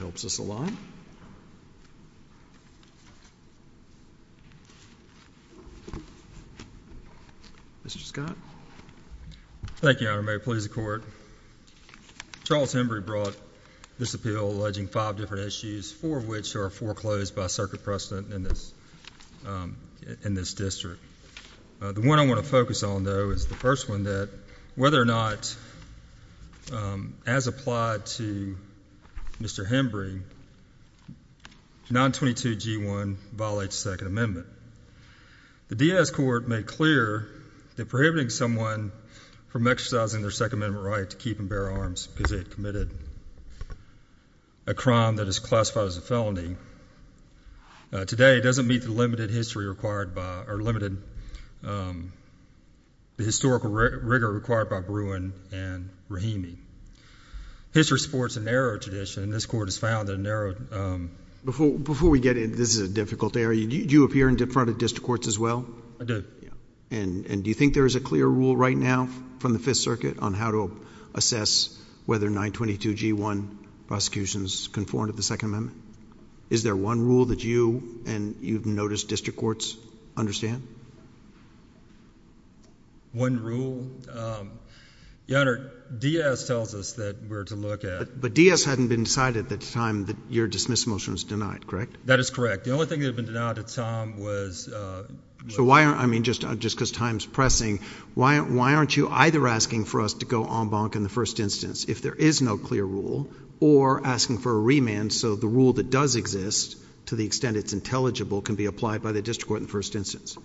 Charles Hembree brought this appeal alleging five different issues, four of which are foreclosed by circuit precedent in this district. The one I want to focus on, though, is the first one, that whether or not as applied to Mr. Hembree, 922G1 violates the Second Amendment. The D.A.S. Court made clear that prohibiting someone from exercising their Second Amendment right to keep and bear arms because they had committed a crime that is classified as a felony today doesn't meet the historical rigor required by Bruin and Rahimi. History supports a narrow tradition, and this Court has found a narrow tradition. Before we get into this, this is a difficult area, do you appear in front of district courts as well? I do. And do you think there is a clear rule right now from the Fifth Circuit on how to assess whether 922G1 prosecutions conform to the Second Amendment? Is there one rule that you and you've noticed district courts understand? One rule? Your Honor, D.A.S. tells us that we're to look at... But D.A.S. hadn't been decided at the time that your dismissal motion was denied, correct? That is correct. The only thing that had been denied at the time was... So why aren't, I mean, just because time's pressing, why aren't you either asking for us to go en banc in the first instance if there is no clear rule, or asking for a remand so the rule that does exist to the extent it's intelligible can be applied by the district court in the first instance?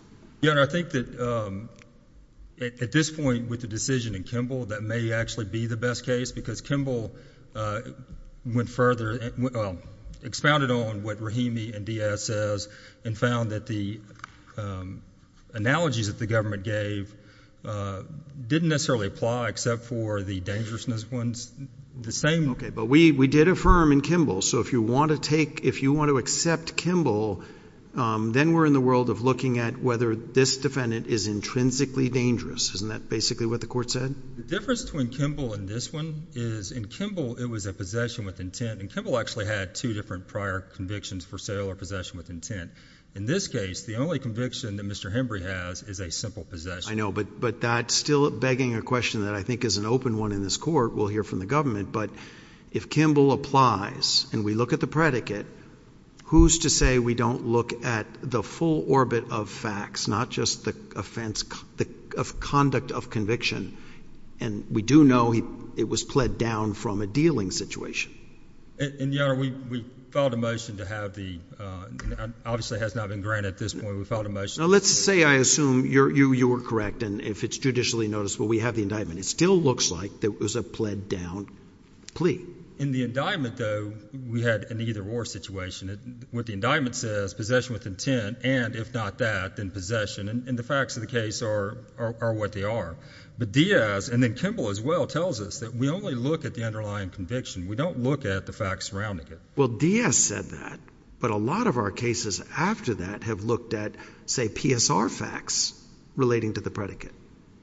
Your Honor, I think that at this point with the decision in Kimball, that may actually be the best case because Kimball went further, expounded on what Rahimi and D.A.S. says and found that the analogies that the government gave didn't necessarily apply except for the dangerousness ones. The same... Okay. But we did affirm in Kimball. So if you want to take... if you want to accept Kimball, then we're in the world of looking at whether this defendant is intrinsically dangerous, isn't that basically what the court said? The difference between Kimball and this one is in Kimball, it was a possession with intent, and Kimball actually had two different prior convictions for sale or possession with intent. In this case, the only conviction that Mr. Hembree has is a simple possession. I know, but that's still begging a question that I think is an open one in this court. We'll hear from the government, but if Kimball applies... Yes.... and we look at the predicate, who's to say we don't look at the full orbit of facts, not just the offense... the conduct of conviction? And we do know it was pled down from a dealing situation. And, Your Honor, we filed a motion to have the... obviously has not been granted at this point. We filed a motion... Now, let's say, I assume, you were correct, and if it's judicially noticeable, we have the indictment. It still looks like there was a pled down plea. In the indictment, though, we had an either-or situation. What the indictment says, possession with intent, and if not that, then possession, and the facts of the case are what they are. But Diaz, and then Kimball as well, tells us that we only look at the underlying conviction. We don't look at the facts surrounding it. Well, Diaz said that, but a lot of our cases after that have looked at, say, PSR facts relating to the predicate.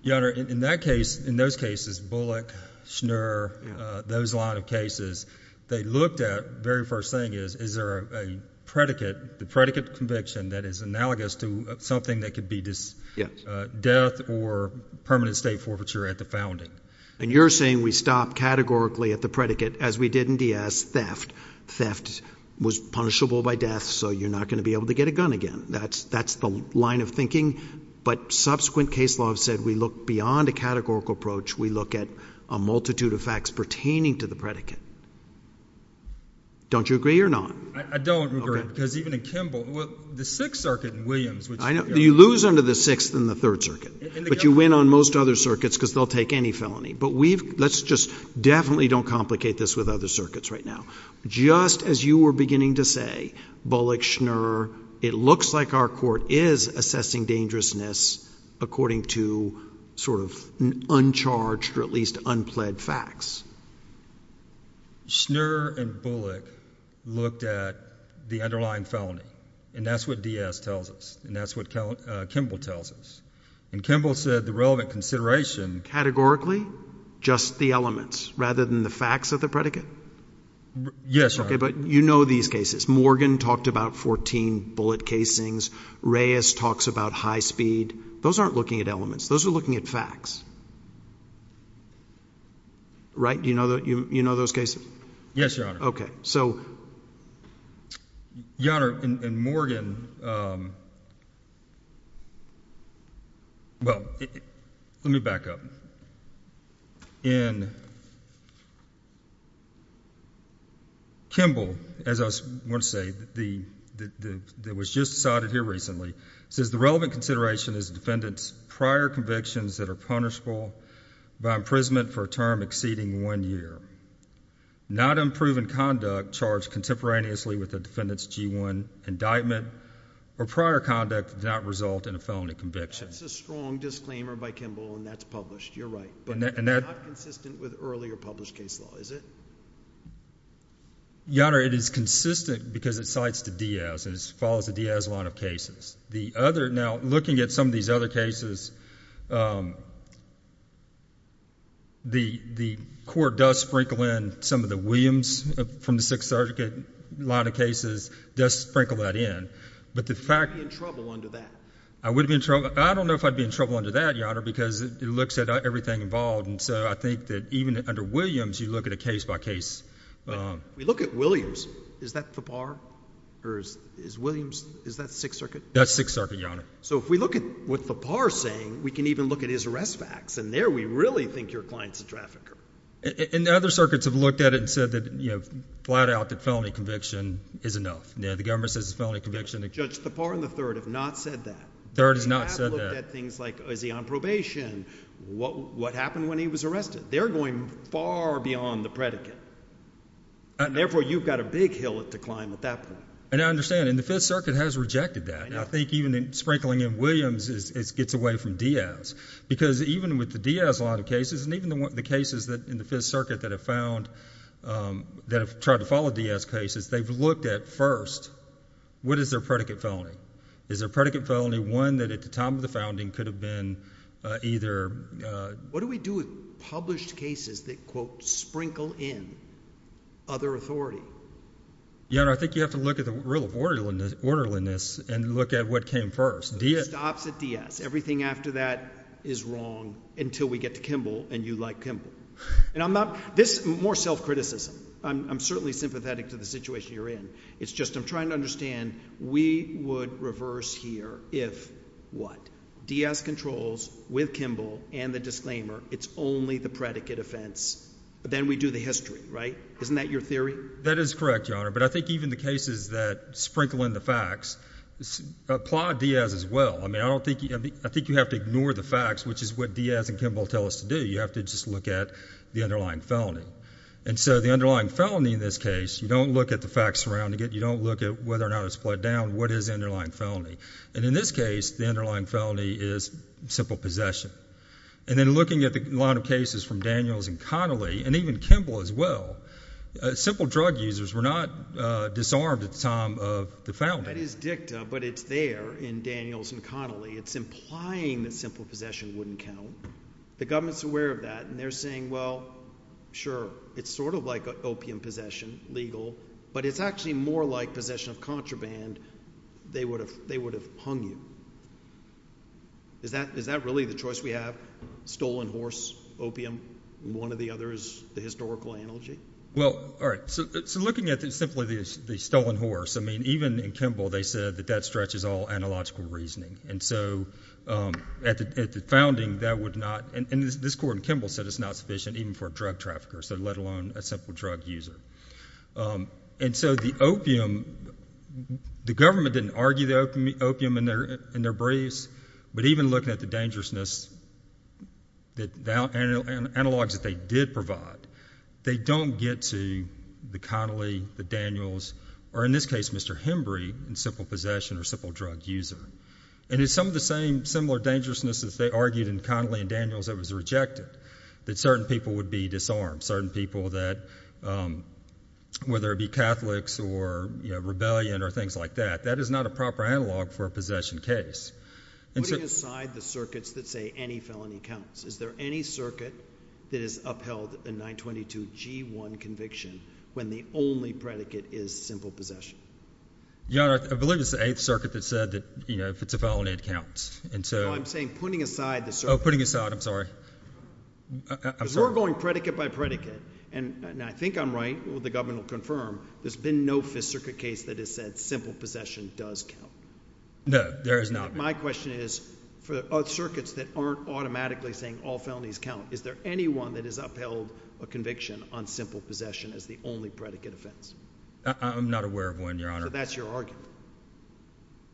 Your Honor, in that case, in those cases, Bullock, Schnur, those line of cases, they looked at, very first thing is, is there a predicate, the predicate conviction that is analogous to something that could be death or permanent state forfeiture at the founding. And you're saying we stop categorically at the predicate, as we did in Diaz, theft. Theft was punishable by death, so you're not going to be able to get a gun again. That's the line of thinking. But subsequent case laws said we look beyond a categorical approach. We look at a multitude of facts pertaining to the predicate. Don't you agree or not? I don't, Your Honor, because even in Kimball, the Sixth Circuit in Williams, which— You lose under the Sixth and the Third Circuit, but you win on most other circuits because they'll take any felony. But let's just definitely don't complicate this with other circuits right now. Just as you were beginning to say, Bullock, Schnur, it looks like our court is assessing dangerousness according to sort of uncharged or at least unpled facts. Schnur and Bullock looked at the underlying felony, and that's what Diaz tells us, and that's what Kimball tells us. And Kimball said the relevant consideration— Categorically? Just the elements, rather than the facts of the predicate? Yes, Your Honor. But you know these cases. Morgan talked about 14 bullet casings. Reyes talks about high speed. Those aren't looking at elements. Those are looking at facts, right? You know those cases? Yes, Your Honor. Okay. So— Your Honor, in Morgan, well, let me back up. In Kimball, as I was going to say, that was just cited here recently, it says the relevant consideration is the defendant's prior convictions that are punishable by imprisonment for a term exceeding one year. Not unproven conduct charged contemporaneously with the defendant's G1 indictment or prior conduct that did not result in a felony conviction. That's a strong disclaimer by Kimball, and that's published. You're right. But that's not consistent with earlier published case law, is it? Your Honor, it is consistent because it cites the Diaz, and it follows the Diaz line of The other—now, looking at some of these other cases, the court does sprinkle in some of the Williams from the Sixth Circuit line of cases, does sprinkle that in. But the fact— You would be in trouble under that. I would be in trouble—I don't know if I'd be in trouble under that, Your Honor, because it looks at everything involved. And so I think that even under Williams, you look at a case by case— We look at Williams. Is that Thapar? Or is Williams—is that Sixth Circuit? That's Sixth Circuit, Your Honor. So if we look at what Thapar is saying, we can even look at his arrest facts, and there we really think your client's a trafficker. And other circuits have looked at it and said that, you know, flat out that felony conviction is enough. You know, the government says the felony conviction— Judge Thapar and the Third have not said that. The Third has not said that. They have looked at things like, is he on probation? What happened when he was arrested? They're going far beyond the predicate, and therefore you've got a big hill to climb at that point. And I understand. And the Fifth Circuit has rejected that. I know. And I think even sprinkling in Williams, it gets away from Diaz. Because even with the Diaz line of cases, and even the cases in the Fifth Circuit that have found—that have tried to follow Diaz cases, they've looked at first, what is their predicate felony? Is their predicate felony one that at the time of the founding could have been either— What do we do with published cases that, quote, sprinkle in other authority? Your Honor, I think you have to look at the rule of orderliness and look at what came first. Diaz— It stops at Diaz. Everything after that is wrong until we get to Kimball and you like Kimball. And I'm not—this is more self-criticism. I'm certainly sympathetic to the situation you're in. It's just I'm trying to understand, we would reverse here if what? Diaz controls with Kimball and the disclaimer. It's only the predicate offense. Then we do the history, right? Isn't that your theory? That is correct, Your Honor. But I think even the cases that sprinkle in the facts applaud Diaz as well. I mean, I don't think—I think you have to ignore the facts, which is what Diaz and Kimball tell us to do. You have to just look at the underlying felony. And so the underlying felony in this case, you don't look at the facts surrounding it. You don't look at whether or not it's split down. What is the underlying felony? And in this case, the underlying felony is simple possession. And then looking at a lot of cases from Daniels and Connolly and even Kimball as well, simple drug users were not disarmed at the time of the felony. That is dicta, but it's there in Daniels and Connolly. It's implying that simple possession wouldn't count. The government's aware of that, and they're saying, well, sure, it's sort of like opium possession, legal, but it's actually more like possession of contraband. They would have—they would have hung you. Is that—is that really the choice we have? Stolen horse, opium, one or the other is the historical analogy? Well, all right, so looking at it simply as the stolen horse, I mean, even in Kimball they said that that stretches all analogical reasoning. And so at the founding that would not—and this court in Kimball said it's not sufficient even for a drug trafficker, so let alone a simple drug user. And so the opium—the government didn't argue the opium in their briefs, but even looking at the dangerousness, the analogs that they did provide, they don't get to the Connolly, the Daniels, or in this case, Mr. Hembree in simple possession or simple drug user. And it's some of the same—similar dangerousness as they argued in Connolly and Daniels that was rejected, that certain people would be disarmed, certain people that—whether it be Catholics or, you know, rebellion or things like that, that is not a proper analog for a possession case. And so— Putting aside the circuits that say any felony counts, is there any circuit that is upheld in 922g1 conviction when the only predicate is simple possession? Your Honor, I believe it's the Eighth Circuit that said that, you know, if it's a felony, it counts. And so— No, I'm saying putting aside the circuit. Oh, putting aside. I'm sorry. I'm sorry. Because we're going predicate by predicate, and I think I'm right, the government will confirm, there's been no Fifth Circuit case that has said simple possession does count. No, there has not been. My question is, for circuits that aren't automatically saying all felonies count, is there anyone that has upheld a conviction on simple possession as the only predicate offense? I'm not aware of one, Your Honor. So that's your argument.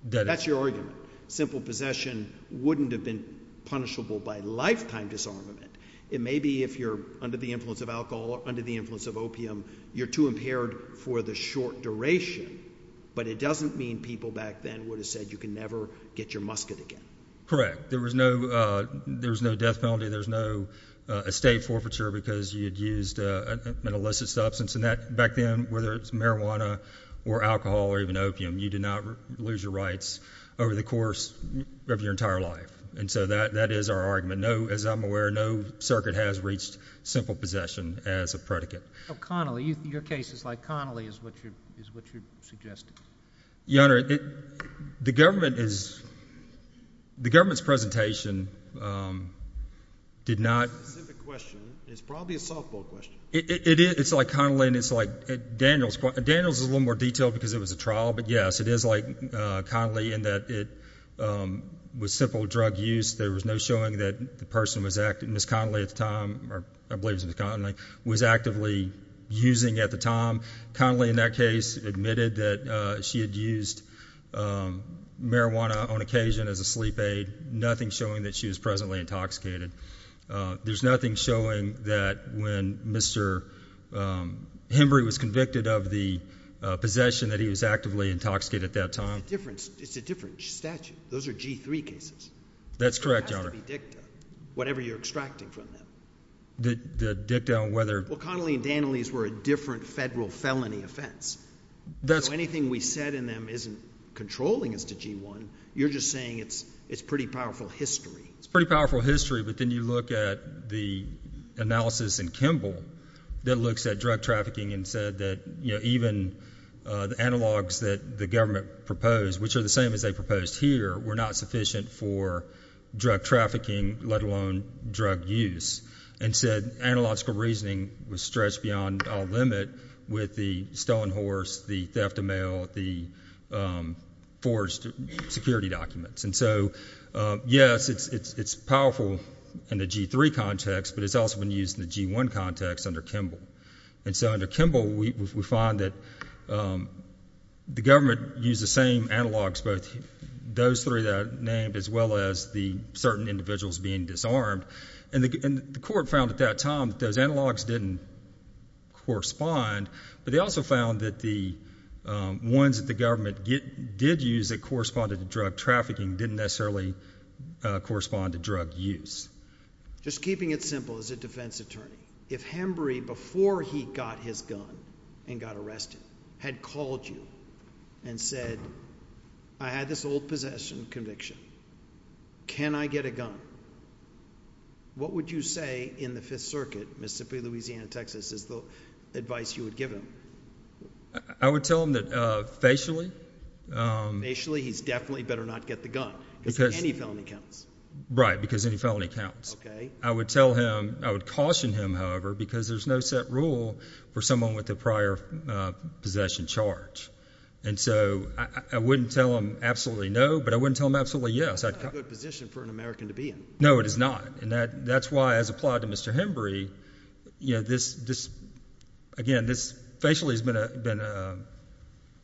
That is— That's your argument. Simple possession wouldn't have been punishable by lifetime disarmament. It may be if you're under the influence of alcohol or under the influence of opium, you're too impaired for the short duration. But it doesn't mean people back then would have said you can never get your musket again. Correct. There was no—there was no death penalty. There's no estate forfeiture because you had used an illicit substance. And that, back then, whether it's marijuana or alcohol or even opium, you did not lose your rights over the course of your entire life. And so that is our argument. No, as I'm aware, no circuit has reached simple possession as a predicate. Oh, Connolly. Your case is like Connolly is what you're suggesting. Your Honor, the government is—the government's presentation did not— It's a specific question. It's probably a softball question. It is. It's like Connolly and it's like Daniels. Daniels is a little more detailed because it was a trial, but yes, it is like Connolly in that it was simple drug use. There was no showing that the person was—Ms. Connolly at the time—I believe it was Ms. Connolly—was actively using at the time. Connolly, in that case, admitted that she had used marijuana on occasion as a sleep aid, nothing showing that she was presently intoxicated. There's nothing showing that when Mr. Hembree was convicted of the possession that he was actively intoxicated at that time. It's a different statute. Those are G-3 cases. That's correct, Your Honor. It has to be dicta, whatever you're extracting from them. The dicta on whether— Well, Connolly and Daniels were a different federal felony offense, so anything we said in them isn't controlling as to G-1. You're just saying it's pretty powerful history. It's pretty powerful history, but then you look at the analysis in Kimball that looks at drug trafficking and said that even the analogs that the government proposed, which are the same as they proposed here, were not sufficient for drug trafficking, let alone drug use, and said analogical reasoning was stretched beyond all limit with the stolen horse, the theft of mail, the forged security documents. And so, yes, it's powerful in the G-3 context, but it's also been used in the G-1 context under Kimball. And so under Kimball, we find that the government used the same analogs, both those three that are named as well as the certain individuals being disarmed, and the court found at that time that those analogs didn't correspond, but they also found that the ones that the government used didn't necessarily correspond to drug use. Just keeping it simple as a defense attorney, if Hembree, before he got his gun and got arrested, had called you and said, I had this old possession conviction. Can I get a gun? What would you say in the Fifth Circuit, Mississippi, Louisiana, Texas, is the advice you would give him? I would tell him that facially... Because any felony counts. Right, because any felony counts. I would caution him, however, because there's no set rule for someone with a prior possession charge. And so I wouldn't tell him absolutely no, but I wouldn't tell him absolutely yes. It's not a good position for an American to be in. No, it is not. And that's why, as applied to Mr. Hembree, again, this facially has been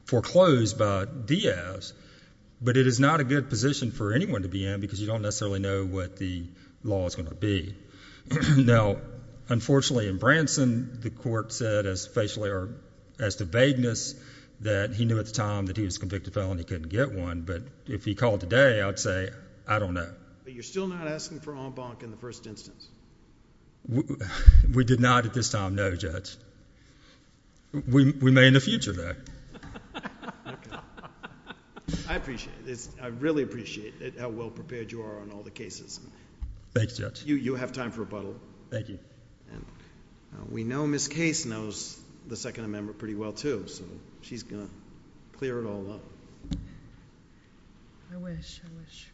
foreclosed by Diaz, but it is not a good position for anyone to be in because you don't necessarily know what the law is going to be. Now, unfortunately in Branson, the court said, as to vagueness, that he knew at the time that he was convicted of a felony and couldn't get one, but if he called today, I would say, I don't know. But you're still not asking for en banc in the first instance? We did not at this time, no, Judge. We may in the future, though. I appreciate it. I really appreciate it, how well prepared you are on all the cases. Thanks, Judge. You have time for rebuttal. Thank you. And we know Ms. Case knows the Second Amendment pretty well, too, so she's going to clear it all up. I wish, I wish.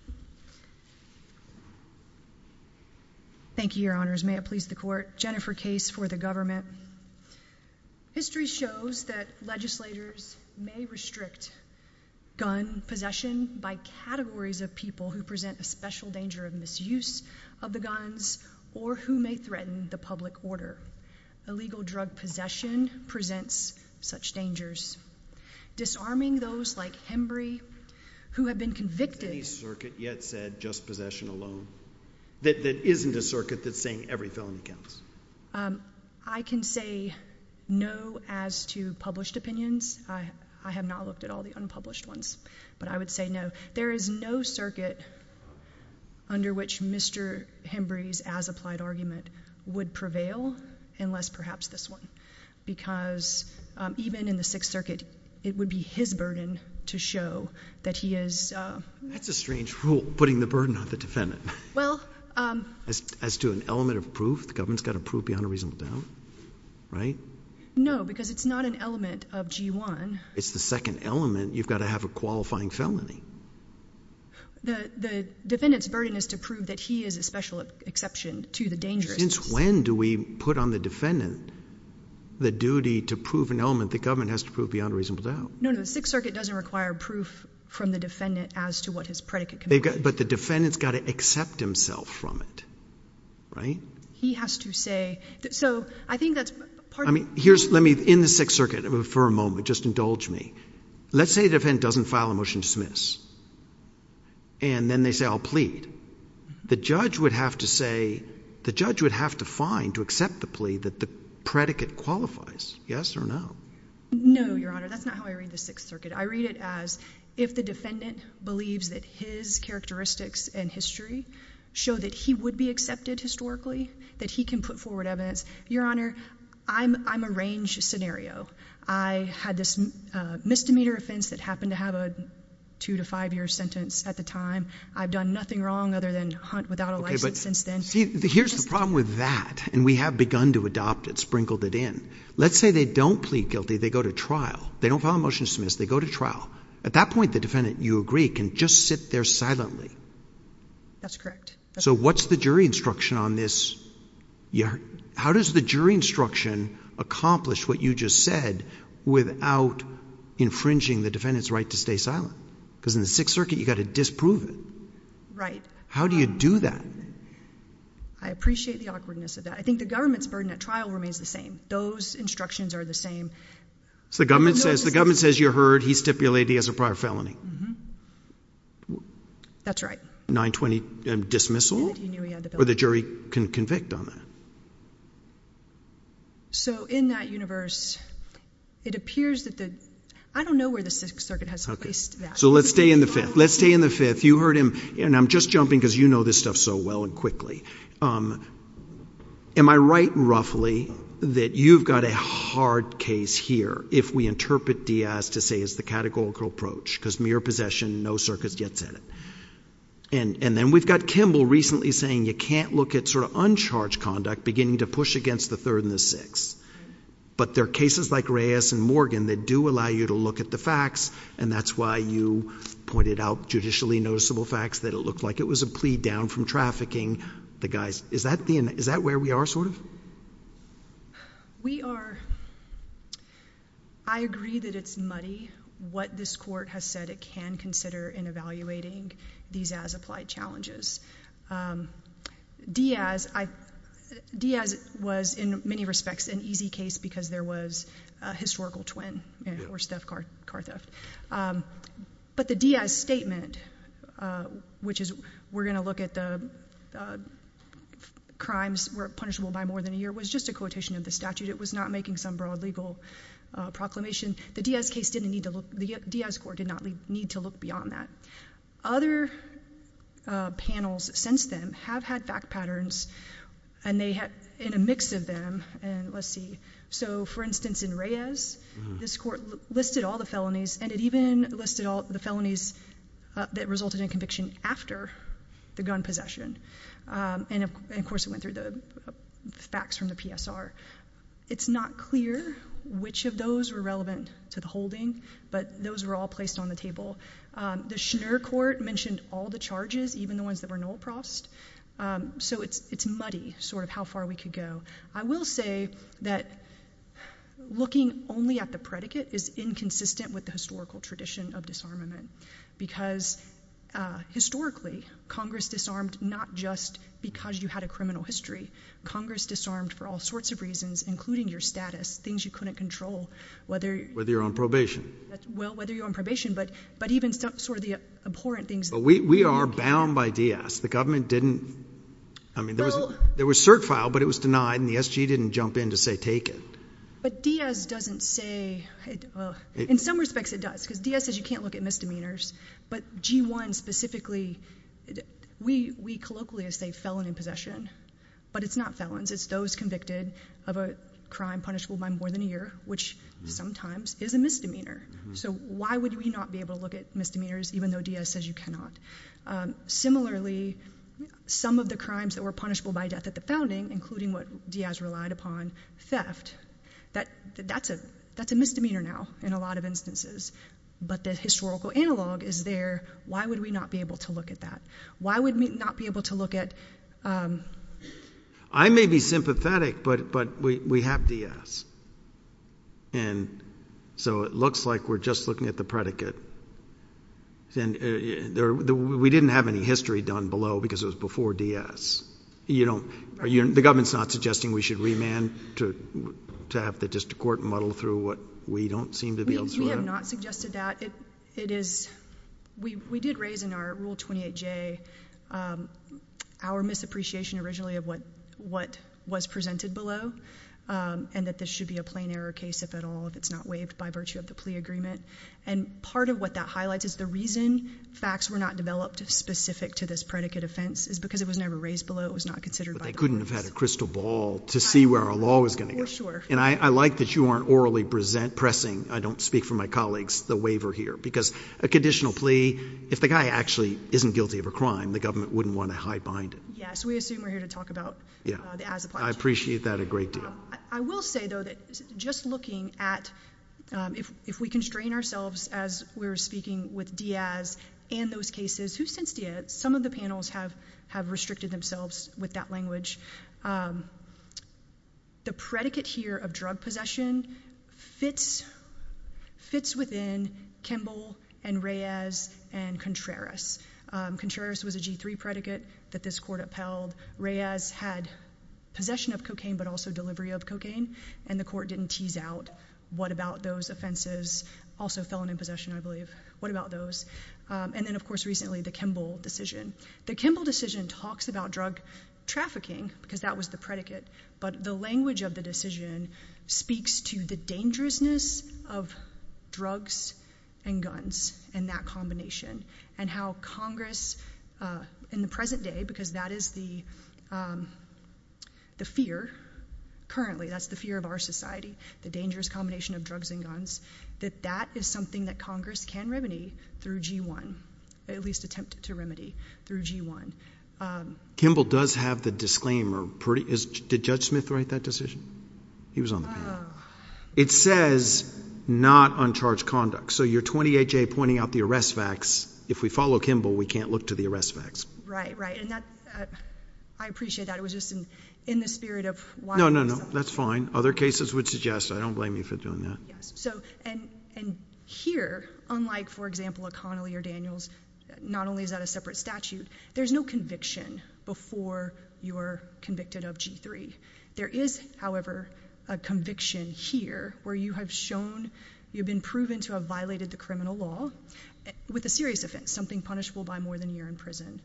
Thank you, Your Honors. May it please the Court. Jennifer Case for the government. History shows that legislators may restrict gun possession by categories of people who present a special danger of misuse of the guns or who may threaten the public order. Illegal drug possession presents such dangers. Disarming those like Hembree, who have been convicted— Has any circuit yet said just possession alone? That isn't a circuit that's saying every felony counts? I can say no as to published opinions. I have not looked at all the unpublished ones, but I would say no. There is no circuit under which Mr. Hembree's as-applied argument would prevail, unless perhaps this one, because even in the Sixth Circuit, it would be his burden to show that he is— That's a strange rule, putting the burden on the defendant. As to an element of proof, the government's got to prove beyond a reasonable doubt, right? No, because it's not an element of G-1. It's the second element. You've got to have a qualifying felony. The defendant's burden is to prove that he is a special exception to the dangerousness. Since when do we put on the defendant the duty to prove an element the government has to prove beyond a reasonable doubt? No, no, the Sixth Circuit doesn't require proof from the defendant as to what his predicate can be. They've got—but the defendant's got to accept himself from it, right? He has to say—so, I think that's part of— I mean, here's—let me—in the Sixth Circuit, for a moment, just indulge me. Let's say the defendant doesn't file a motion to dismiss, and then they say, I'll plead. The judge would have to say—the judge would have to find, to accept the plea, that the predicate qualifies. Yes or no? No, Your Honor. That's not how I read the Sixth Circuit. I read it as, if the defendant believes that his characteristics and history show that he would be accepted historically, that he can put forward evidence. Your Honor, I'm a range scenario. I had this misdemeanor offense that happened to have a two-to-five-year sentence at the time. I've done nothing wrong other than hunt without a license since then. Okay, but see, here's the problem with that, and we have begun to adopt it, sprinkled it in. Let's say they don't plead guilty. They go to trial. They don't file a motion to dismiss. They go to trial. At that point, the defendant, you agree, can just sit there silently. That's correct. So what's the jury instruction on this? How does the jury instruction accomplish what you just said without infringing the defendant's right to stay silent? Because in the Sixth Circuit, you've got to disprove it. Right. How do you do that? I appreciate the awkwardness of that. I think the government's burden at trial remains the same. Those instructions are the same. So the government says you heard he stipulated he has a prior felony? That's right. A 920 dismissal? Or the jury can convict on that? So in that universe, it appears that the—I don't know where the Sixth Circuit has placed that. So let's stay in the Fifth. Let's stay in the Fifth. You heard him, and I'm just jumping because you know this stuff so well and quickly. Am I right, roughly, that you've got a hard case here, if we interpret Diaz to say it's the categorical approach? Because mere possession, no circuits yet set it. And then we've got Kimball recently saying you can't look at sort of uncharged conduct beginning to push against the Third and the Sixth. But there are cases like Reyes and Morgan that do allow you to look at the facts, and that's why you pointed out judicially noticeable facts, that it looked like it was a plea down from trafficking the guys. Is that where we are, sort of? We are—I agree that it's muddy what this court has said it can consider in evaluating these as-applied challenges. Diaz was, in many respects, an easy case because there was a historical twin or car theft. But the Diaz statement, which is we're going to look at the crimes were punishable by more than a year, was just a quotation of the statute. It was not making some broad legal proclamation. The Diaz case didn't need to look—the Diaz court did not need to look beyond that. Other panels since then have had fact patterns in a mix of them, and let's see. So, for instance, in Reyes, this court listed all the felonies, and it even listed all the felonies that resulted in conviction after the gun possession. And, of course, it went through the facts from the PSR. It's not clear which of those were relevant to the holding, but those were all placed on the table. The Schnur court mentioned all the charges, even the ones that were no-approst. So it's muddy, sort of, how far we could go. I will say that looking only at the predicate is inconsistent with the historical tradition of disarmament because, historically, Congress disarmed not just because you had a criminal history. Congress disarmed for all sorts of reasons, including your status, things you couldn't control, whether— Whether you're on probation. Well, whether you're on probation, but even sort of the abhorrent things— But we are bound by Diaz. The government didn't—I mean, there was cert file, but it was denied, and the SG didn't jump in to say, take it. But Diaz doesn't say—in some respects, it does, because Diaz says you can't look at misdemeanors, but G1 specifically, we colloquially say felon in possession, but it's not felons. It's those convicted of a crime punishable by more than a year, which sometimes is a misdemeanor. So why would we not be able to look at misdemeanors, even though Diaz says you cannot? Similarly, some of the crimes that were punishable by death at the founding, including what Diaz relied upon, theft. That's a misdemeanor now in a lot of instances, but the historical analog is there. Why would we not be able to look at that? Why would we not be able to look at— I may be sympathetic, but we have Diaz, and so it looks like we're just looking at the predicate. We didn't have any history done below because it was before Diaz. The government's not suggesting we should remand to have the district court muddle through what we don't seem to be able to do? We have not suggested that. We did raise in our Rule 28J our misappreciation originally of what was presented below and that this should be a plain error case, if at all, if it's not waived by virtue of the plea agreement. And part of what that highlights is the reason facts were not developed specific to this predicate offense is because it was never raised below. It was not considered by the police. But they couldn't have had a crystal ball to see where our law was going to go. For sure. And I like that you aren't orally pressing—I don't speak for my colleagues—the waiver here, because a conditional plea, if the guy actually isn't guilty of a crime, the government wouldn't want to hide behind it. Yes, we assume we're here to talk about the as-applies. I appreciate that a great deal. I will say, though, that just looking at if we constrain ourselves as we're speaking with Diaz and those cases, who since Diaz, some of the panels have restricted themselves with that language, the predicate here of drug possession fits within Kimball and Reyes and Contreras. Contreras was a G3 predicate that this court upheld. Reyes had possession of cocaine, but also delivery of cocaine. And the court didn't tease out, what about those offenses? Also felon in possession, I believe. What about those? And then, of course, recently, the Kimball decision. The Kimball decision talks about drug trafficking, because that was the predicate. But the language of the decision speaks to the dangerousness of drugs and guns and that combination, and how Congress in the present day, because that is the fear currently, that's the fear of our society, the dangerous combination of drugs and guns, that that is something that Congress can remedy through G1, at least attempt to remedy through G1. Kimball does have the disclaimer. Did Judge Smith write that decision? He was on the panel. It says, not uncharged conduct. So you're 28-J pointing out the arrest facts. If we follow Kimball, we can't look to the arrest facts. Right, right. And that, I appreciate that. It was just in the spirit of... No, no, no. That's fine. Other cases would suggest. I don't blame you for doing that. Yes. So, and here, unlike, for example, O'Connelly or Daniels, not only is that a separate statute, there's no conviction before you're convicted of G3. There is, however, a conviction here, where you have shown, you've been proven to have violated the criminal law, with a serious offense, something punishable by more than a year in prison.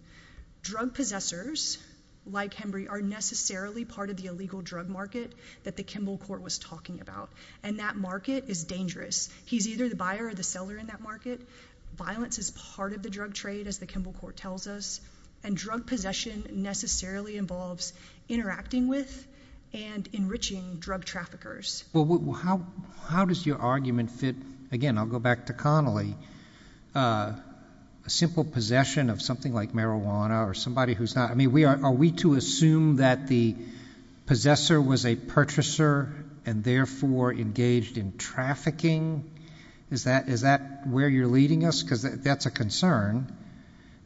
Drug possessors, like Hembree, are necessarily part of the illegal drug market that the Kimball Court was talking about. And that market is dangerous. He's either the buyer or the seller in that market. Violence is part of the drug trade, as the Kimball Court tells us. And drug possession necessarily involves interacting with and enriching drug traffickers. Well, how does your argument fit, again, I'll go back to Connolly, a simple possession of something like marijuana, or somebody who's not... I mean, are we to assume that the possessor was a purchaser, and therefore engaged in Is that where you're leading us? Because that's a concern.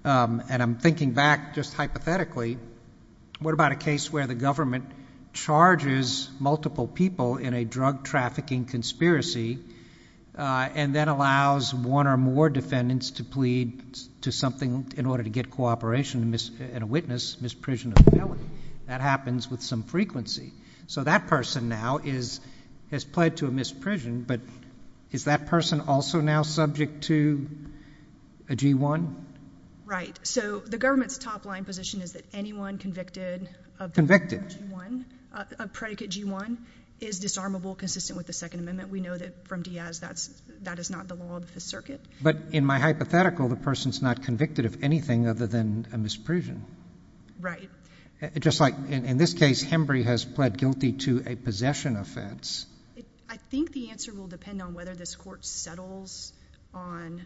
And I'm thinking back, just hypothetically, what about a case where the government charges multiple people in a drug trafficking conspiracy, and then allows one or more defendants to plead to something in order to get cooperation and a witness, misprision of the felony? That happens with some frequency. So that person now has pled to a misprision, but is that person also now subject to a G1? Right. So the government's top-line position is that anyone convicted... Convicted. ...of predicate G1 is disarmable, consistent with the Second Amendment. We know that from Diaz, that is not the law of the circuit. But in my hypothetical, the person's not convicted of anything other than a misprision. Right. Just like, in this case, Hembree has pled guilty to a possession offense. I think the answer will depend on whether this court settles on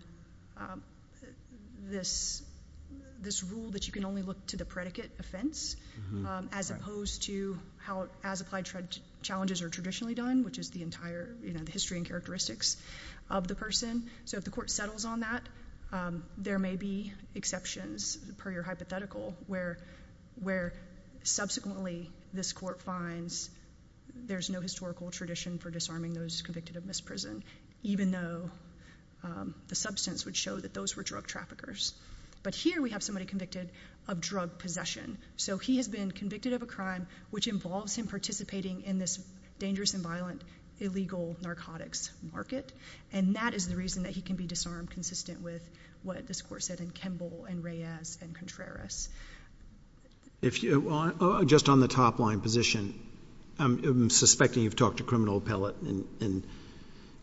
this rule that you can only look to the predicate offense, as opposed to how, as applied challenges are traditionally done, which is the entire history and characteristics of the person. So if the court settles on that, there may be exceptions, per your hypothetical, where subsequently, this court finds there's no historical tradition for disarming those convicted of misprision, even though the substance would show that those were drug traffickers. But here, we have somebody convicted of drug possession. So he has been convicted of a crime which involves him participating in this dangerous and violent illegal narcotics market, and that is the reason that he can be disarmed, consistent with what this court said in Kemble and Reyes and Contreras. Just on the top line position, I'm suspecting you've talked to criminal appellate, and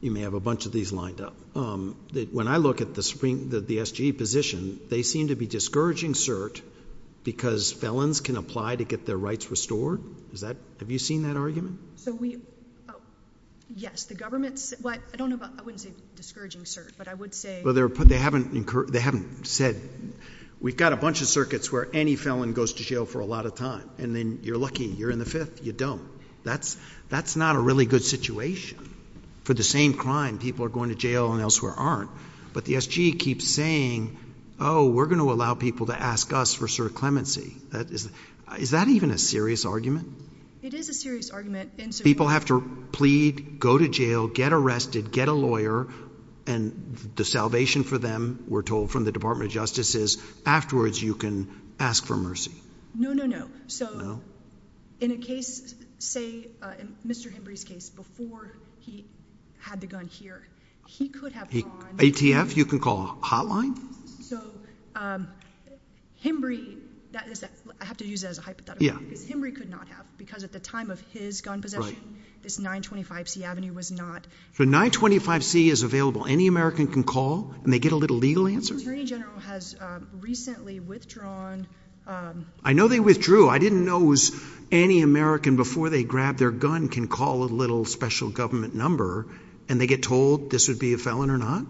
you may have a bunch of these lined up. When I look at the SG position, they seem to be discouraging cert because felons can apply to get their rights restored. Have you seen that argument? So we, oh, yes. The government's, I wouldn't say discouraging cert, but I would say. They haven't said, we've got a bunch of circuits where any felon goes to jail for a lot of time, and then you're lucky, you're in the fifth, you don't. That's not a really good situation. For the same crime, people are going to jail and elsewhere aren't. But the SG keeps saying, oh, we're going to allow people to ask us for cert clemency. Is that even a serious argument? It is a serious argument. People have to plead, go to jail, get arrested, get a lawyer, and the salvation for them, we're told from the Department of Justice, is afterwards you can ask for mercy. No, no, no. So in a case, say Mr. Hembree's case, before he had the gun here, he could have drawn. ATF, you can call a hotline? So Hembree, I have to use that as a hypothetical. Because Hembree could not have, because at the time of his gun possession, this 925C avenue was not. So 925C is available. Any American can call, and they get a little legal answer? The Attorney General has recently withdrawn. I know they withdrew. I didn't know it was any American, before they grab their gun, can call a little special government number, and they get told this would be a felon or not?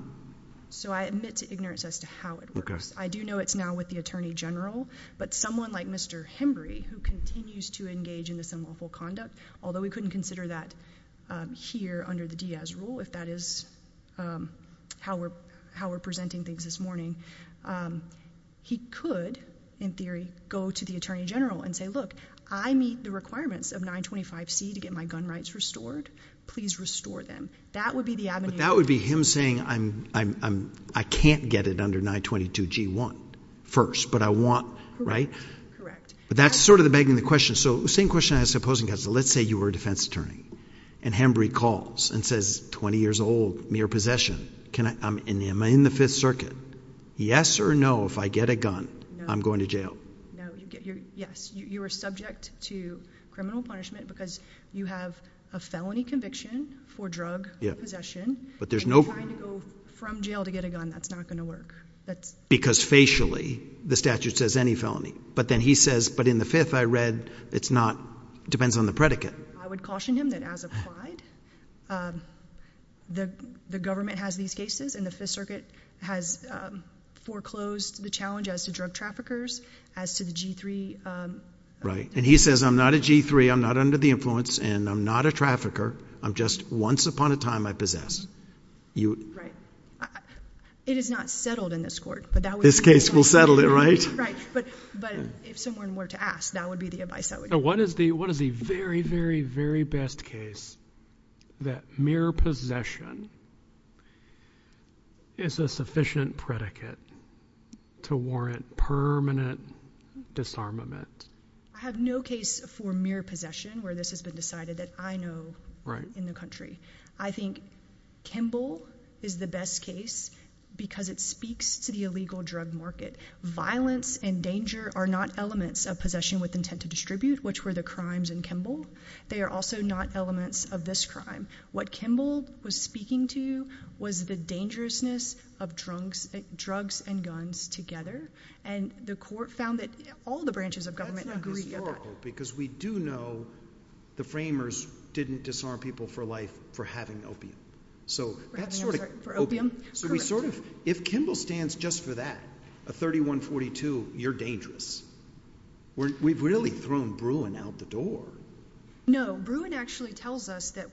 So I admit to ignorance as to how it works. I do know it's now with the Attorney General, but someone like Mr. Hembree, who continues to engage in this unlawful conduct, although we couldn't consider that here under the Diaz rule, if that is how we're presenting things this morning, he could, in theory, go to the Attorney General and say, look, I meet the requirements of 925C to get my gun rights restored. Please restore them. That would be the avenue. That would be him saying, I can't get it under 922G1 first, but I want, right? Correct. But that's sort of begging the question. So the same question I ask the opposing counsel. Let's say you were a defense attorney, and Hembree calls and says, 20 years old, mere possession, am I in the Fifth Circuit? Yes or no, if I get a gun, I'm going to jail? No. Yes. You are subject to criminal punishment because you have a felony conviction for drug possession, and you're trying to go from jail to get a gun. That's not going to work. Because facially, the statute says any felony. But then he says, but in the Fifth, I read it's not, depends on the predicate. I would caution him that, as applied, the government has these cases, and the Fifth Circuit has foreclosed the challenge as to drug traffickers, as to the G3. Right. And he says, I'm not a G3. I'm not under the influence, and I'm not a trafficker. I'm just, once upon a time, I possessed. Right. It is not settled in this court. This case will settle it, right? Right. But if someone were to ask, that would be the advice I would give. What is the very, very, very best case that mere possession is a sufficient predicate to warrant permanent disarmament? I have no case for mere possession where this has been decided that I know in the country. I think Kimball is the best case because it speaks to the illegal drug market. Violence and danger are not elements of possession with intent to distribute, which were the crimes in Kimball. They are also not elements of this crime. What Kimball was speaking to was the dangerousness of drugs and guns together. And the court found that all the branches of government agree about that. That's not historical because we do know the framers didn't disarm people for life for having opium. For having, I'm sorry, for opium? Correct. So we sort of, if Kimball stands just for that, a 3142, you're dangerous. We've really thrown Bruin out the door. No, Bruin actually tells us that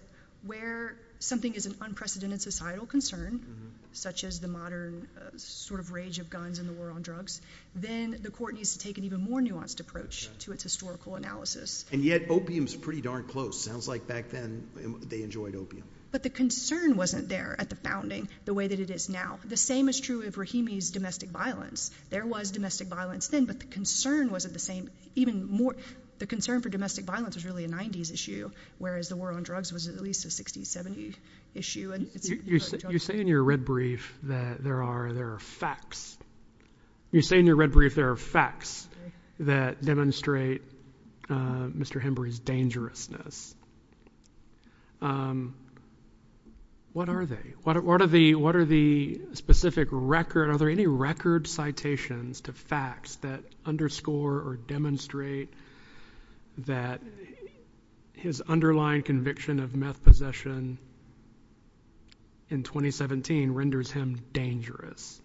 where something is an unprecedented societal concern, such as the modern sort of rage of guns and the war on drugs, then the court needs to take an even more nuanced approach to its historical analysis. And yet opium is pretty darn close. Sounds like back then they enjoyed opium. But the concern wasn't there at the founding the way that it is now. The same is true of Rahimi's domestic violence. There was domestic violence then, but the concern wasn't the same. The concern for domestic violence was really a 90s issue, whereas the war on drugs was at least a 60s, 70s issue. You say in your red brief that there are facts. You say in your red brief there are facts that demonstrate Mr. Hembury's dangerousness. What are they? What are the specific record, are there any record citations to facts that underscore or demonstrate that his underlying conviction of meth possession in 2017 renders him dangerous?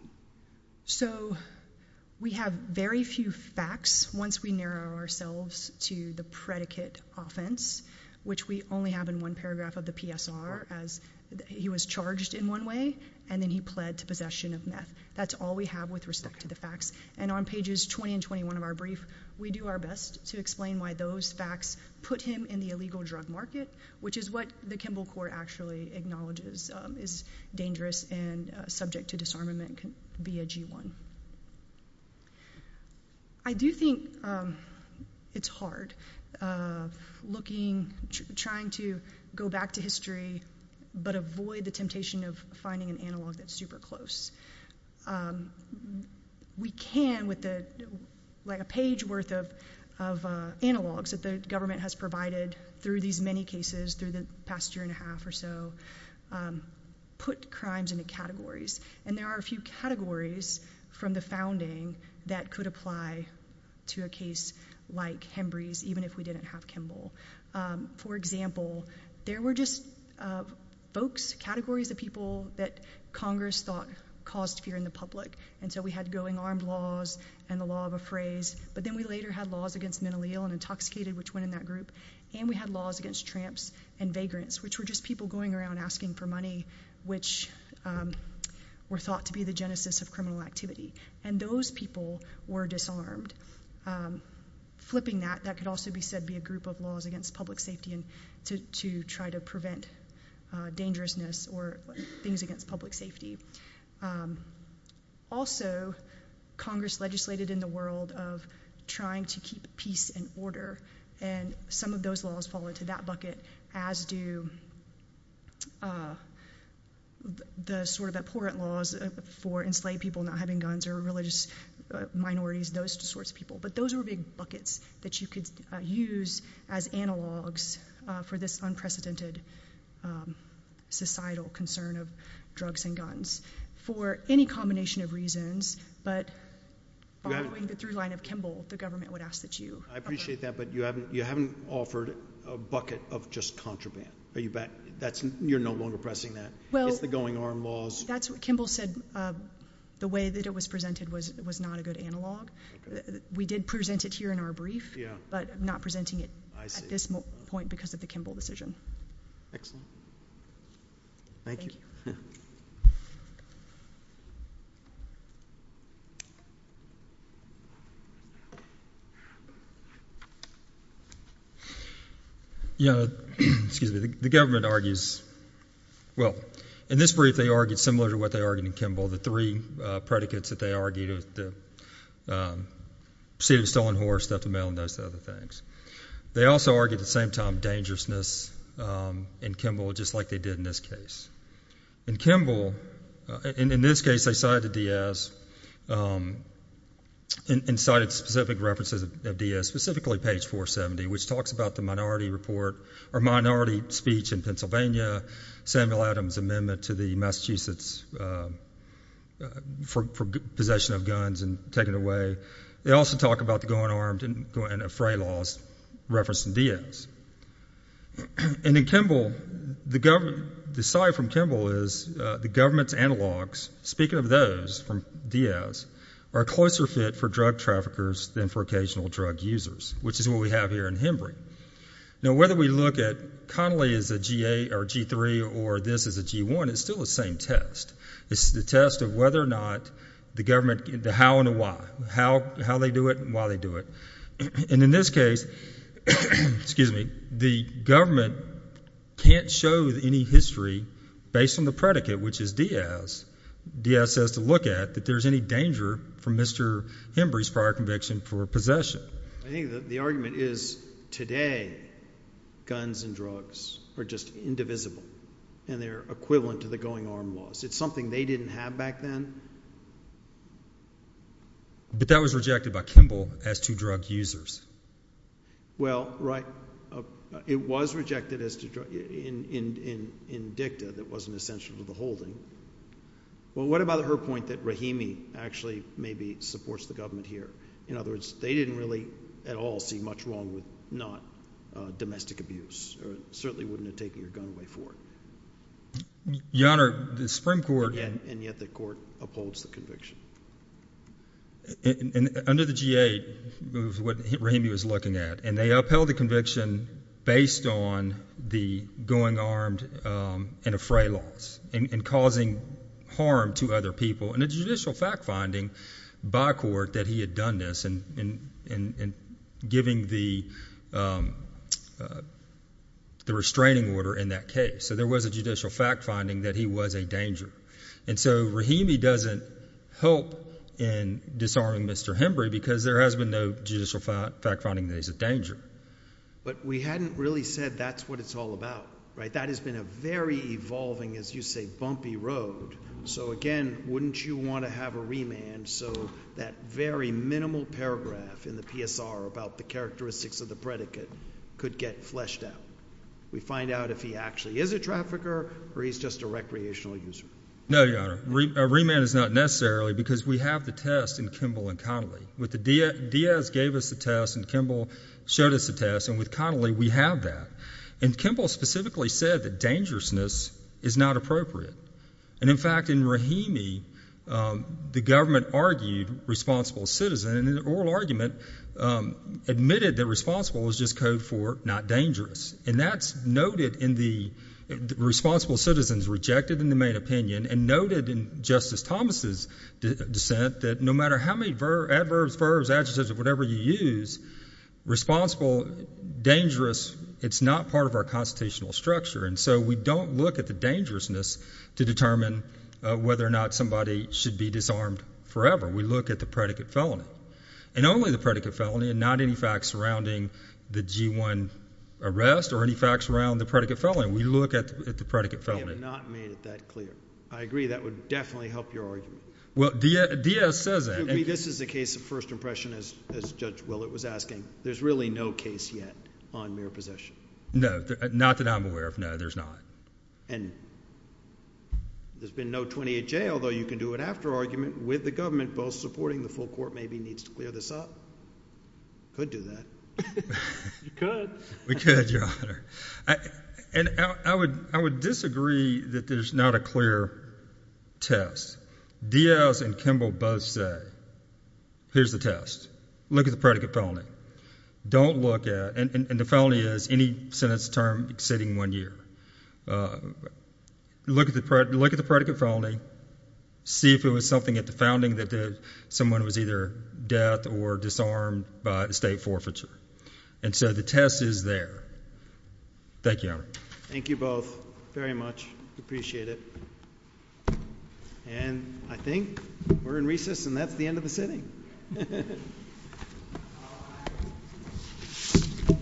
So, we have very few facts once we narrow ourselves to the predicate offense, which we only have in one paragraph of the PSR, as he was charged in one way and then he pled to possession of meth. That's all we have with respect to the facts. And on pages 20 and 21 of our brief, we do our best to explain why those facts put him in the illegal drug market, which is what the Kimbell Court actually acknowledges is dangerous and subject to disarmament via G1. I do think it's hard looking, trying to go back to history, but avoid the temptation of finding an analog that's super close. We can, with a page worth of analogs that the government has provided through these many cases through the past year and a half or so, put crimes into categories. And there are a few categories from the founding that could apply to a case like Hembury's, even if we didn't have Kimbell. For example, there were just folks, categories of people that Congress thought caused fear in the public. And so, we had going armed laws and the law of a phrase. But then we later had laws against mentally ill and intoxicated, which went in that group. And we had laws against tramps and vagrants, which were just people going around asking for money, which were thought to be the genesis of criminal activity. And those people were disarmed. Flipping that, that could also be said to be a group of laws against public safety to try to prevent dangerousness or things against public safety. Also, Congress legislated in the world of trying to keep peace and order. And some of those laws fall into that bucket, as do the sort of abhorrent laws for enslaved people not having guns or religious minorities, those sorts of people. But those were big buckets that you could use as analogs for this unprecedented societal concern of drugs and guns for any combination of reasons. But following the throughline of Kimbell, the government would ask that you... I appreciate that, but you haven't offered a bucket of just contraband. Are you back... You're no longer pressing that. It's the going armed laws. That's what Kimbell said. The way that it was presented was not a good analog. We did present it here in our brief, but not presenting it at this point because of the Kimbell decision. Excellent. Thank you. Yeah, excuse me. The government argues... Well, in this brief, they argued similar to what they argued in Kimbell, the three predicates that they argued. The proceeding of a stolen horse, theft of mail, and those other things. They also argued at the same time dangerousness in Kimbell, just like they did in this case. In Kimbell, in this case, they cited D.S. and cited specific references of D.S., specifically page 470, which talks about the minority report or minority speech in Pennsylvania, Samuel Adams' amendment to the Massachusetts possession of guns and taking it away. They also talk about the going armed and fray laws referenced in D.S. And in Kimbell, the side from Kimbell is the government's analogs, speaking of those from D.S., are a closer fit for drug traffickers than for occasional drug users, which is what we have here in Hembree. Now, whether we look at Connolly as a G8 or a G3 or this as a G1, it's still the same test. It's the test of whether or not the government... The how and the why. How they do it and why they do it. And in this case, the government can't show any history based on the predicate, which is D.S. D.S. says to look at that there's any danger from Mr. Hembree's prior conviction for possession. I think the argument is today guns and drugs are just indivisible and they're equivalent to the going armed laws. It's something they didn't have back then. But that was rejected by Kimbell as to drug users. Well, right. It was rejected in dicta that wasn't essential to the holding. Well, what about her point that Rahimi actually maybe supports the government here? In other words, they didn't really at all see much wrong with not domestic abuse or certainly wouldn't have taken your gun away for it. Your Honor, the Supreme Court... Under the G.A., what Rahimi was looking at, and they upheld the conviction based on the going armed and a fray laws and causing harm to other people and a judicial fact finding by court that he had done this and giving the restraining order in that case. So there was a judicial fact finding that he was a danger. And so Rahimi doesn't help in disarming Mr. Hembree because there has been no judicial fact finding that he's a danger. But we hadn't really said that's what it's all about. That has been a very evolving, as you say, bumpy road. So again, wouldn't you want to have a remand so that very minimal paragraph in the PSR about the characteristics of the predicate could get fleshed out? We find out if he actually is a trafficker or he's just a recreational user. No, Your Honor. A remand is not necessarily because we have the test in Kimball and Connolly. Diaz gave us the test, and Kimball showed us the test, and with Connolly we have that. And Kimball specifically said that dangerousness is not appropriate. And in fact, in Rahimi, the government argued responsible citizen. And in the oral argument, admitted that responsible is just code for not dangerous. And that's noted in the responsible citizens rejected in the main opinion and noted in Justice Thomas' dissent that no matter how many adverbs, verbs, adjectives, or whatever you use, responsible, dangerous, it's not part of our constitutional structure. And so we don't look at the dangerousness to determine whether or not somebody should be disarmed forever. We look at the predicate felony, and only the predicate felony and not any facts surrounding the G-1 arrest or any facts around the predicate felony. We look at the predicate felony. We have not made it that clear. I agree. That would definitely help your argument. Well, Diaz says that. This is a case of first impression, as Judge Willett was asking. There's really no case yet on mere possession. No, not that I'm aware of. No, there's not. And there's been no 28-J, although you can do an after argument with the government, both supporting the full court maybe needs to clear this up. Could do that. You could. We could, Your Honor. And I would disagree that there's not a clear test. Diaz and Kimball both say, here's the test. Look at the predicate felony. Don't look at it. And the felony is any sentence term exceeding one year. Look at the predicate felony. See if it was something at the founding that someone was either death or disarmed by estate forfeiture. And so the test is there. Thank you, Your Honor. Thank you both very much. Appreciate it. And I think we're in recess, and that's the end of the sitting. Thank you.